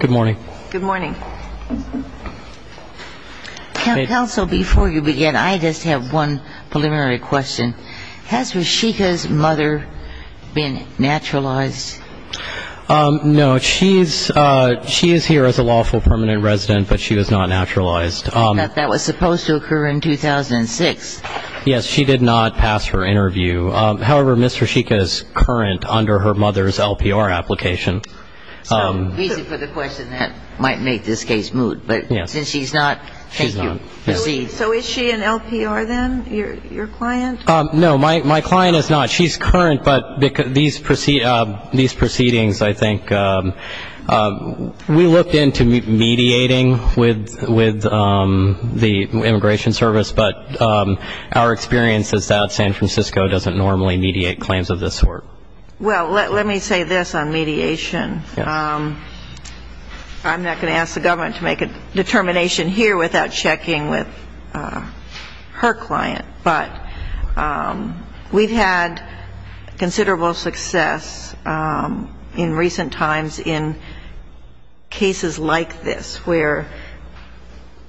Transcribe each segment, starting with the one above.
Good morning. Counsel, before you begin, I just have one preliminary question. Has Rashika's mother been naturalized? No, she is here as a lawful permanent resident, but she was not naturalized. That was supposed to occur in 2006. Yes, she did not pass her interview. However, Ms. Rashika is current under her mother's LPR application. So, easy for the question that might make this case moot. But since she's not, can you proceed? So is she an LPR then, your client? No, my client is not. She's current, but these proceedings, I think, we looked into mediating with the Immigration Service, but our experience is that San Francisco doesn't normally mediate claims of this sort. Well, let me say this on mediation. I'm not going to ask the government to make a determination here without checking with her client. But we've had considerable success in recent times in cases like this where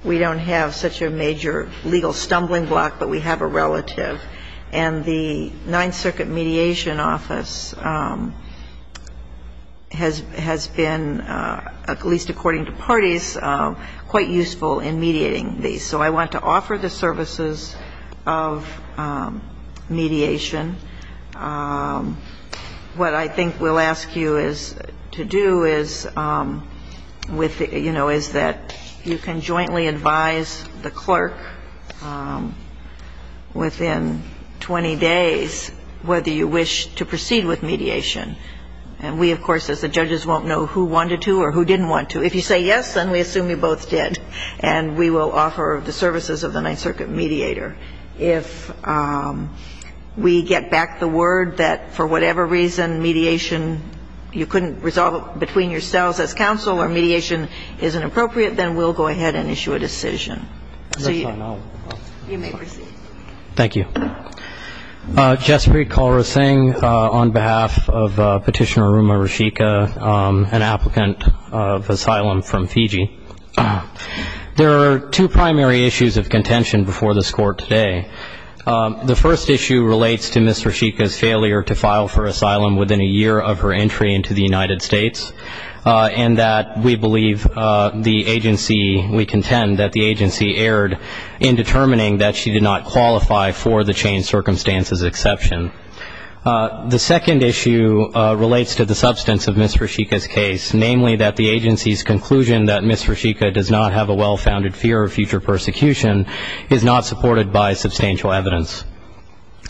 we don't have such a major legal stumbling block, but we have a relative, and the Ninth Circuit Mediation Office has been, at least according to parties, quite useful in mediating these. So I want to offer the services of mediation. What I think we'll ask you to do is that you can jointly advise the clerk within 20 days whether you wish to proceed with mediation. And we, of course, as the judges, won't know who wanted to or who didn't want to. If you say yes, then we assume you both did. And we will offer the services of the Ninth Circuit mediator. If we get back the word that for whatever reason mediation, you couldn't resolve it between yourselves as counsel or mediation isn't appropriate, then we'll go ahead and issue a decision. So you may proceed. Thank you. Jaspreet Kaur Singh on behalf of Petitioner Ruma Rishika, an applicant of asylum from Fiji. There are two primary issues of contention before this Court today. The first issue relates to Ms. Rishika's failure to file for asylum within a year of her entry into the United States, and that we believe the agency, we contend that the agency erred in determining that she did not qualify for the child exchange circumstances exception. The second issue relates to the substance of Ms. Rishika's case, namely that the agency's conclusion that Ms. Rishika does not have a well-founded fear of future persecution is not supported by substantial evidence.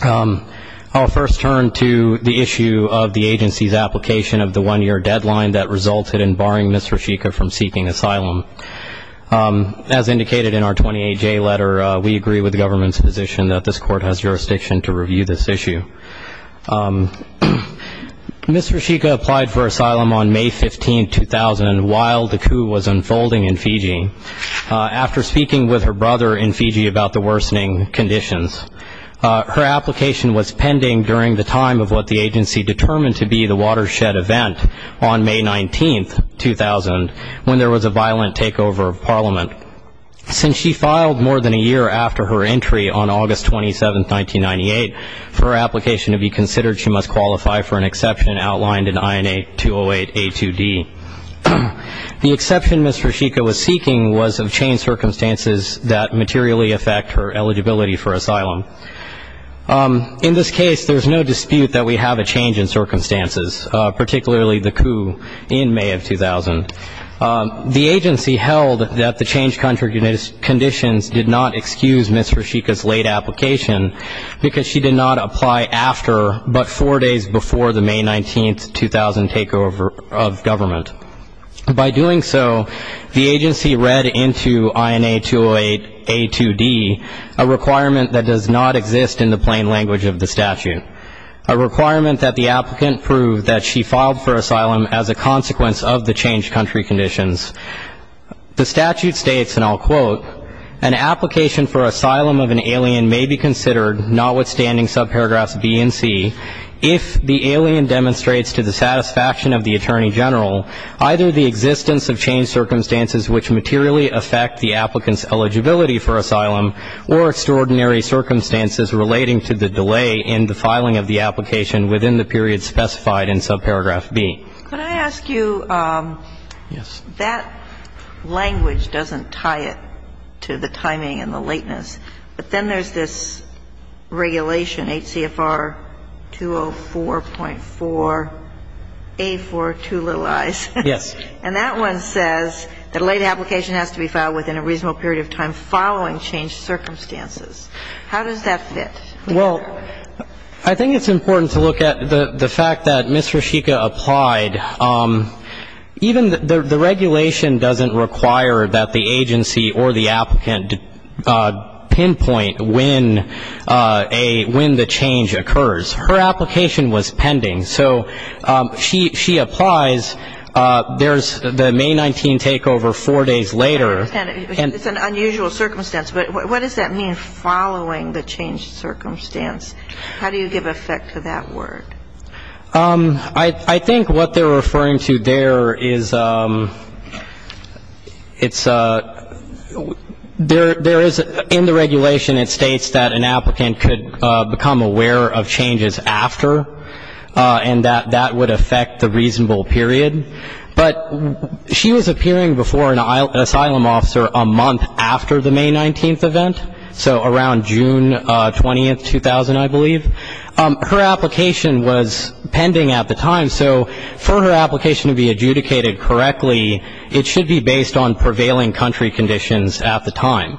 I'll first turn to the issue of the agency's application of the one-year deadline that resulted in barring Ms. Rishika from seeking asylum. As indicated in our 28-J letter, we agree with the government's position that this Court has jurisdiction to review this issue. Ms. Rishika applied for asylum on May 15, 2000, while the coup was unfolding in Fiji, after speaking with her brother in Fiji about the worsening conditions. Her application was pending during the time of what the agency determined to be the watershed event on May 19, 2000, when there was a violent takeover of Parliament. Since she filed more than a year after her entry on August 27, 1998, for her application to be considered, she must qualify for an exception outlined in INA 208A2D. The exception Ms. Rishika was seeking was of chained circumstances that materially affect her eligibility for asylum. In this case, there's no dispute that we have a change in circumstances, particularly the coup in May of 2000. The agency held that the chained conditions did not excuse Ms. Rishika's late application, because she did not apply after but four days before the May 19, 2000 takeover of government. By doing so, the agency read into INA 208A2D a requirement that does not exist in the plain language of the statute, a requirement that the agency should not apply after but four days before the May 19, 2000 takeover of government. In this case, Ms. Rishika's application was pending during the time of her entry on August 27, 1998, when there was a violent takeover of Parliament. Since she filed more than a year after her entry on August 27, 1998, for her application to be considered, she must qualify for an H.C.F.R. 204.4A for two little i's. And that one says that a late application has to be filed within a reasonable period of time following changed circumstances. How does that fit? Well, I think it's important to look at the fact that Ms. Rishika applied. The regulation doesn't require that the agency or the applicant pinpoint when the change occurs. Her application was pending, so she applies. There's the May 19 takeover four days later. It's an unusual circumstance. But what does that mean, following the changed circumstance? How do you give effect to that word? I think what they're referring to there is it's a there is in the regulation it states that an applicant could become aware of changes after, and that that would affect the reasonable period. But she was appearing before an asylum officer a month after the May 19 event, so around June 20, 2009. I believe. Her application was pending at the time, so for her application to be adjudicated correctly, it should be based on prevailing country conditions at the time.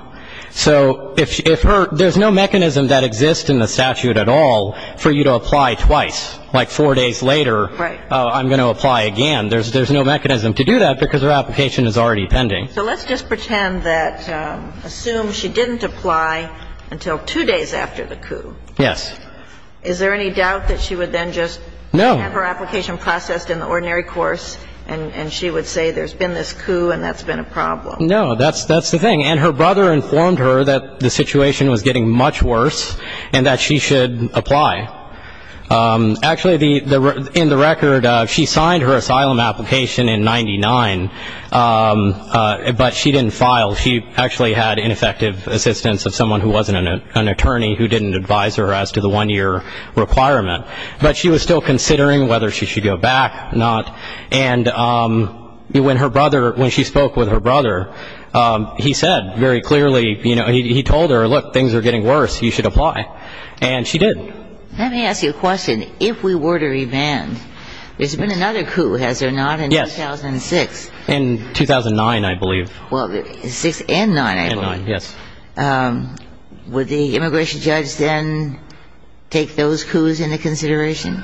So if her there's no mechanism that exists in the statute at all for you to apply twice, like four days later I'm going to apply again. There's no mechanism to do that because her application is already pending. So let's just pretend that assume she didn't apply until two days after the coup. Yes. Is there any doubt that she would then just have her application processed in the ordinary course and she would say there's been this coup and that's been a problem? No, that's the thing. And her brother informed her that the situation was getting much worse and that she should apply. Actually, in the record, she signed her asylum application in 99, but she didn't file. She actually had ineffective assistance of someone who wasn't an attorney who didn't advise her as to the one-year requirement. But she was still considering whether she should go back or not. And when her brother, when she spoke with her brother, he said very clearly, you know, he told her, look, things are getting worse, you should apply. And she did. Let me ask you a question. If we were to revand, there's been another coup, has there not, in 2006? Yes. In 2009, I believe. Well, 6 and 9, I believe. And 9, yes. Would the immigration judge then take those coups into consideration?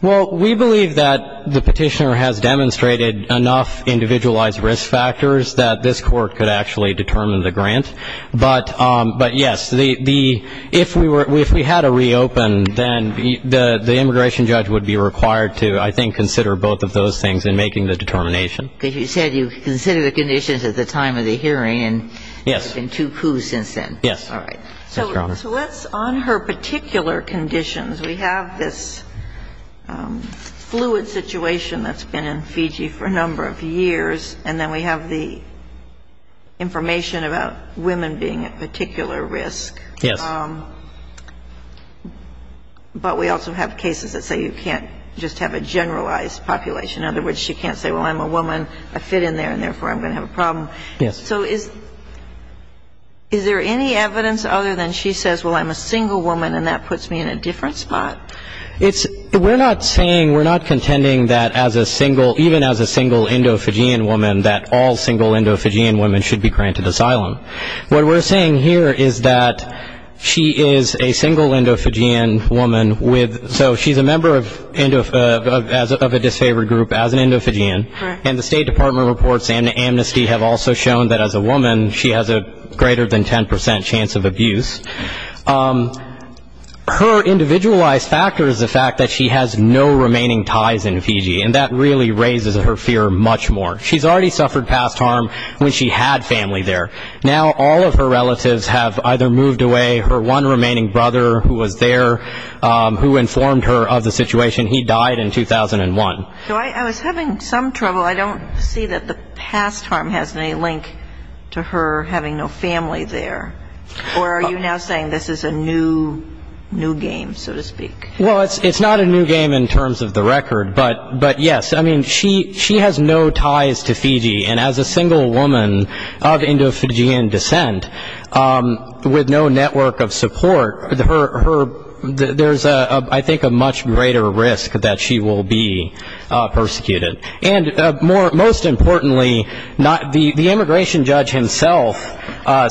Well, we believe that the petitioner has demonstrated enough individualized risk factors that this court could actually determine the grant. But, yes, if we had a reopen, then the immigration judge would be required to, I think, consider both of those things in making the determination. Because you said you considered the conditions at the time of the hearing and there have been two coups since then. Yes. All right. Yes, Your Honor. So let's, on her particular conditions, we have this fluid situation that's been in Fiji for a number of years, and then we have the information about women being at particular risk. Yes. But we also have cases that say you can't just have a generalized population. In other words, she can't say, well, I'm a woman, I fit in there, and therefore I'm going to have a problem. Yes. So is there any evidence other than she says, well, I'm a single woman, and that puts me in a different spot? We're not saying, we're not contending that as a single, even as a single Indo-Fijian woman, that all single Indo-Fijian women should be granted asylum. What we're saying here is that she is a single Indo-Fijian woman with, so she's a member of a disfavored group, as an Indo-Fijian, and the State Department reports amnesty have also shown that as a woman, she has a greater than 10 percent chance of abuse. Her individualized factor is the fact that she has no remaining ties in Fiji, and that really raises her fear much more. She's already suffered past harm when she had family there. Now all of her relatives have either moved away, her one remaining brother who was there, who informed her of the situation, he died in 2001. So I was having some trouble, I don't see that the past harm has any link to her having no family there. Or are you now saying this is a new game, so to speak? Well, it's not a new game in terms of the record, but yes, I mean, she has no ties to Fiji, and as a single woman of Indo-Fijian descent, with no network of support, there's, I think, a much greater risk that she will be persecuted. And most importantly, the immigration judge himself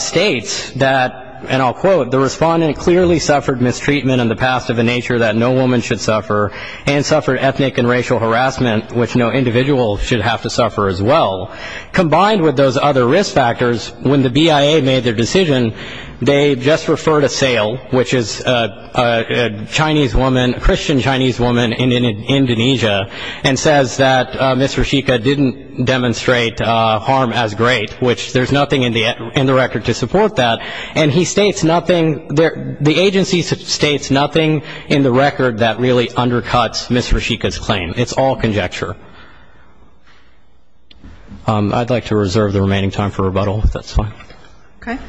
states that, and I'll quote, the respondent clearly suffered mistreatment in the past of a nature that no woman should suffer, and suffered ethnic and racial harassment, which no individual should have to suffer as well. Combined with those other risk factors, when the BIA made their decision, they just referred a sale, which is a Chinese woman, a Christian Chinese woman in Indonesia, and says that Ms. Reshika didn't demonstrate harm as great, which there's nothing in the record to support that. And he states nothing, the agency states nothing in the record that really undercuts Ms. Reshika's claim. It's all conjecture. I'd like to reserve the remaining time for rebuttal, if that's fine. Okay.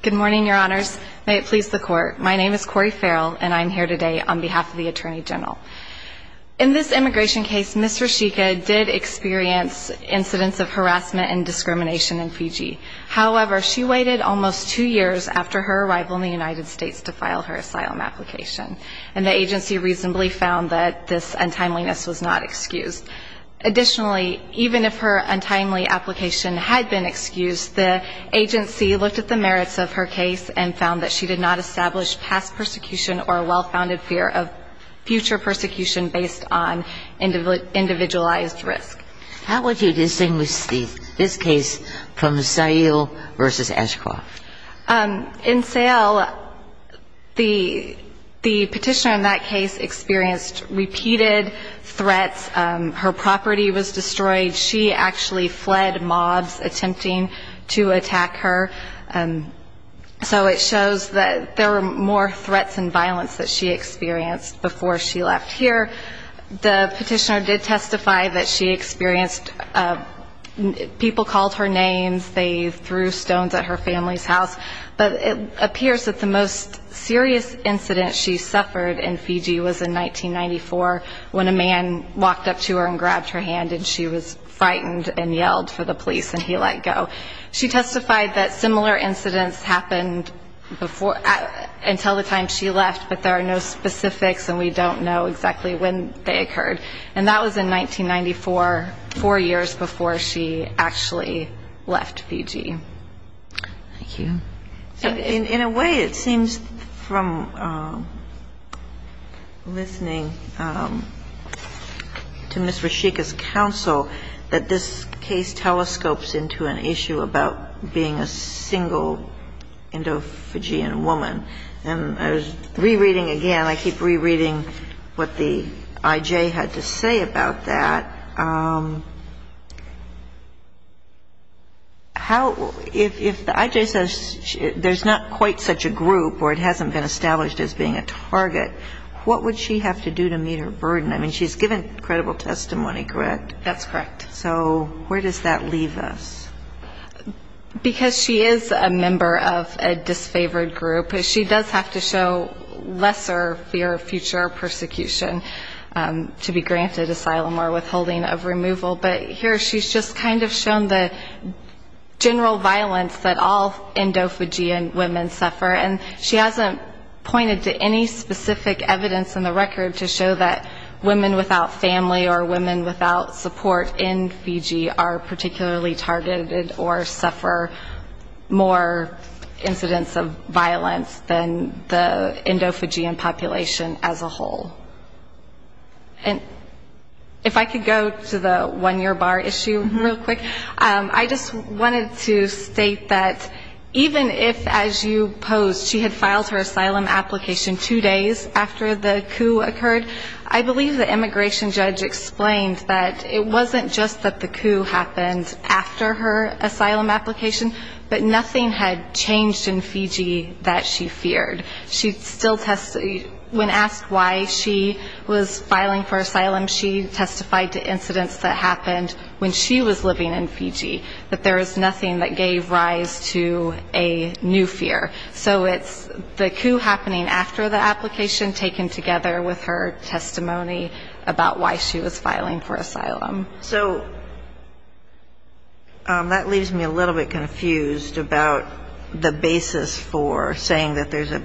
Good morning, Your Honors. May it please the Court, my name is Cori Farrell, and I'm here today on behalf of the Attorney General. In this immigration case, Ms. Reshika did experience incidents of harassment and discrimination in Fiji. However, she waited almost two years after her arrival in the United States to file her asylum application, and the agency reasonably found that this untimeliness was not excused. Additionally, even if her untimely application had been excused, the agency looked at the merits of her case and found that she did not establish past persecution or a well-founded fear of future persecution based on individualized risk. How would you distinguish this case from Sayle v. Ashcroft? In Sayle, the petitioner in that case experienced repeated threats. Her property was destroyed, she actually fled mobs attempting to attack her, so it shows that there were more threats and violence that she experienced before she left here. The petitioner did testify that she experienced people called her names, they threw stones at her family's house, but it appears that the most serious incident she suffered in Fiji was in 1994 when a man walked up to her and grabbed her hand and she was frightened and yelled for the police and he let go. She testified that similar incidents happened until the time she left, but there are no specifics and we don't know exactly when they occurred. And that was in 1994, four years before she actually left Fiji. Thank you. In a way, it seems from listening to Ms. Rashika's counsel that this case telescopes into an issue about being a single Indo-Fijian woman. And I was rereading again, I keep rereading what the I.J. had to say about that. If the I.J. says there's not quite such a group or it hasn't been established as being a target, what would she have to do to meet her burden? I mean, she's given credible testimony, correct? That's correct. So where does that leave us? Because she is a member of a disfavored group. She does have to show lesser fear of future persecution to be granted asylum or withholding of removal. But here she's just kind of shown the general violence that all Indo-Fijian women suffer. And she hasn't pointed to any specific evidence in the record to show that women without family or women without support in Fiji are particularly targeted or suffer more incidents of violence than the Indo-Fijian population as a whole. And if I could go to the one-year bar issue real quick. I just wanted to state that even if, as you posed, she had filed her asylum application two days after the coup occurred, I believe the immigration judge explained that it wasn't just that the coup happened after her asylum application, but nothing had changed in Fiji that she feared. When asked why she was filing for asylum, she testified to incidents that happened when she was living in Fiji, that there was nothing that gave rise to a new fear. So it's the coup happening after the application taken together with her testimony about why she was filing for asylum. So that leaves me a little bit confused about the basis for saying that there's a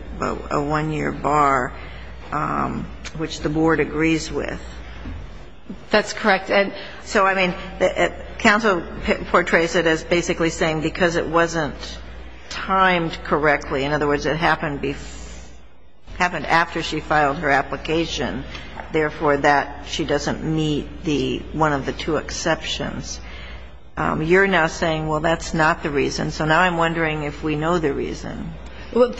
one-year bar, which the board agrees with. That's correct. So, I mean, counsel portrays it as basically saying because it wasn't timed correctly, in other words, it happened after she filed her application, therefore, that she doesn't meet one of the two exceptions. You're now saying, well, that's not the reason. So now I'm wondering if we know the reason. And on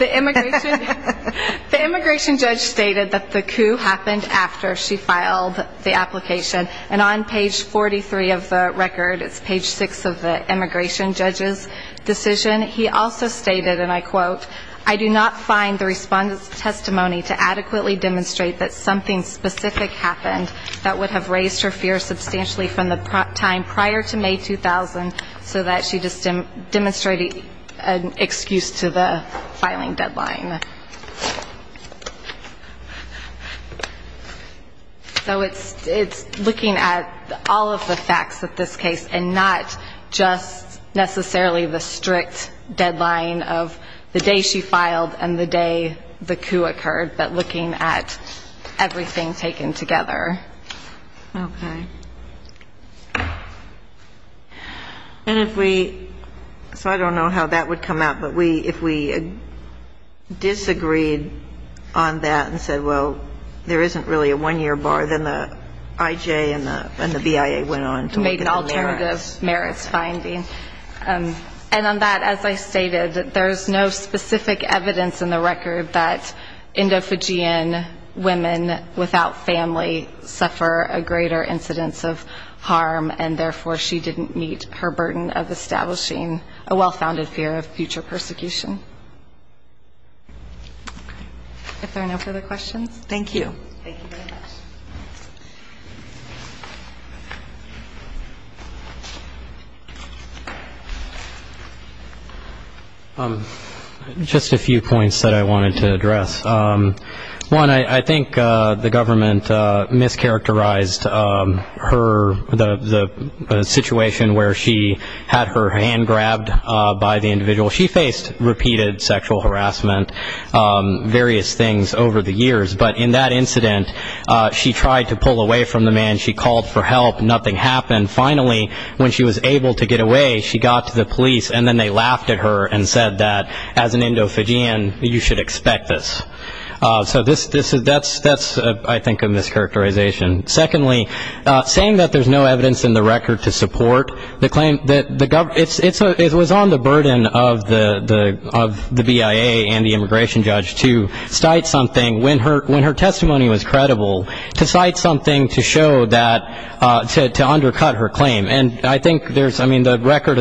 page 43 of the record, it's page 6 of the immigration judge's decision, he also stated, and I quote, I do not find the respondent's testimony to adequately demonstrate that something specific happened that would have raised her fear substantially from the time prior to May 2000, so that she just demonstrated an excuse to the filing deadline. So it's looking at all of the facts of this case and not just necessarily the strict deadline of the day she filed and the day the coup occurred, but looking at everything taken together. Okay. And if we, so I don't know how that would come out, but if we disagreed on that and said, well, there isn't really a one-year bar, then the IJ and the BIA went on to look at the merits. Made an alternative merits finding. And on that, as I stated, there's no specific evidence in the record that endophagian women without family suffer a greater incidence of harm, and therefore she didn't meet her burden of establishing a well-founded fear of future persecution. If there are no further questions. Thank you. Thank you very much. Just a few points that I wanted to address. One, I think the government mischaracterized her, the situation where she had her hand grabbed by the individual. She faced repeated sexual harassment, various things over the years. But in that incident, she tried to pull away from the man. She called for help. Nothing happened. Finally, when she was able to get away, she got to the police, and then they laughed at her and said that, as an endophagian, you should expect this. So that's, I think, a mischaracterization. Secondly, saying that there's no evidence in the record to support the claim that the government, it was on the burden of the BIA and the immigration judge to cite something when her testimony was credible, to cite something to show that, to undercut her claim. And I think there's, I mean, the record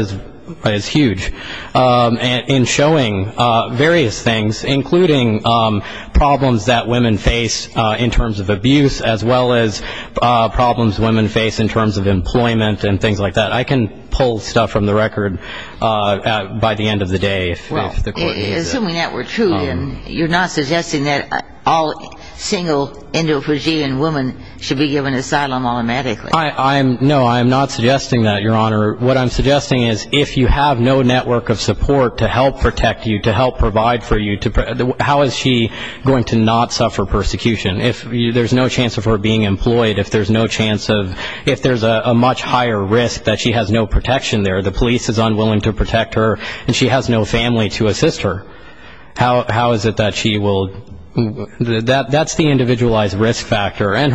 is huge in showing various things, including problems that women face in terms of abuse, as well as problems women face in terms of employment and things like that. I can pull stuff from the record by the end of the day. Assuming that were true, then you're not suggesting that all single endophagian women should be given asylum automatically. No, I'm not suggesting that, Your Honor. What I'm suggesting is if you have no network of support to help protect you, to help provide for you, how is she going to not suffer persecution? If there's no chance of her being employed, if there's no chance of, if there's a much higher risk that she has no protection there, the police is unwilling to protect her, and she has no family to assist her, how is it that she will, that's the individualized risk factor. I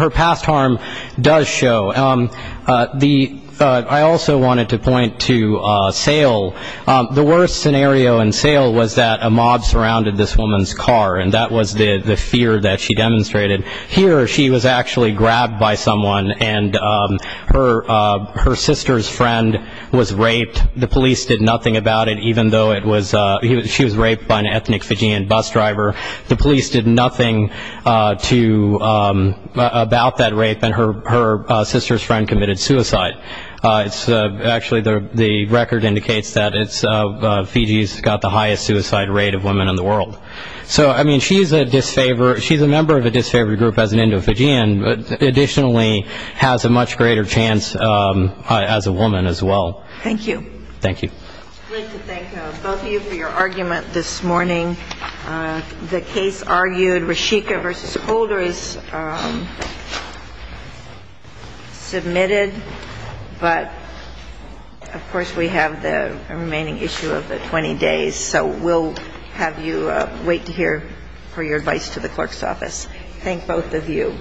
also wanted to point to Sale. The worst scenario in Sale was that a mob surrounded this woman's car, and that was the fear that she demonstrated. Here, she was actually grabbed by someone, and her sister's friend was raped. The police did nothing about it, even though it was, she was raped by an ethnic Fijian bus driver. The police did nothing to, about that rape, and her sister's friend was arrested. Her sister's friend committed suicide. Actually, the record indicates that Fiji's got the highest suicide rate of women in the world. So, I mean, she's a member of a disfavored group as an Indo-Fijian, but additionally has a much greater chance as a woman as well. Thank you. Thank you. It's great to thank both of you for your argument this morning. The case argued, Reshika v. Holder is submitted, but of course we have the remaining issue of the 20 days, so we'll have you wait here for your advice to the clerk's office. Thank both of you.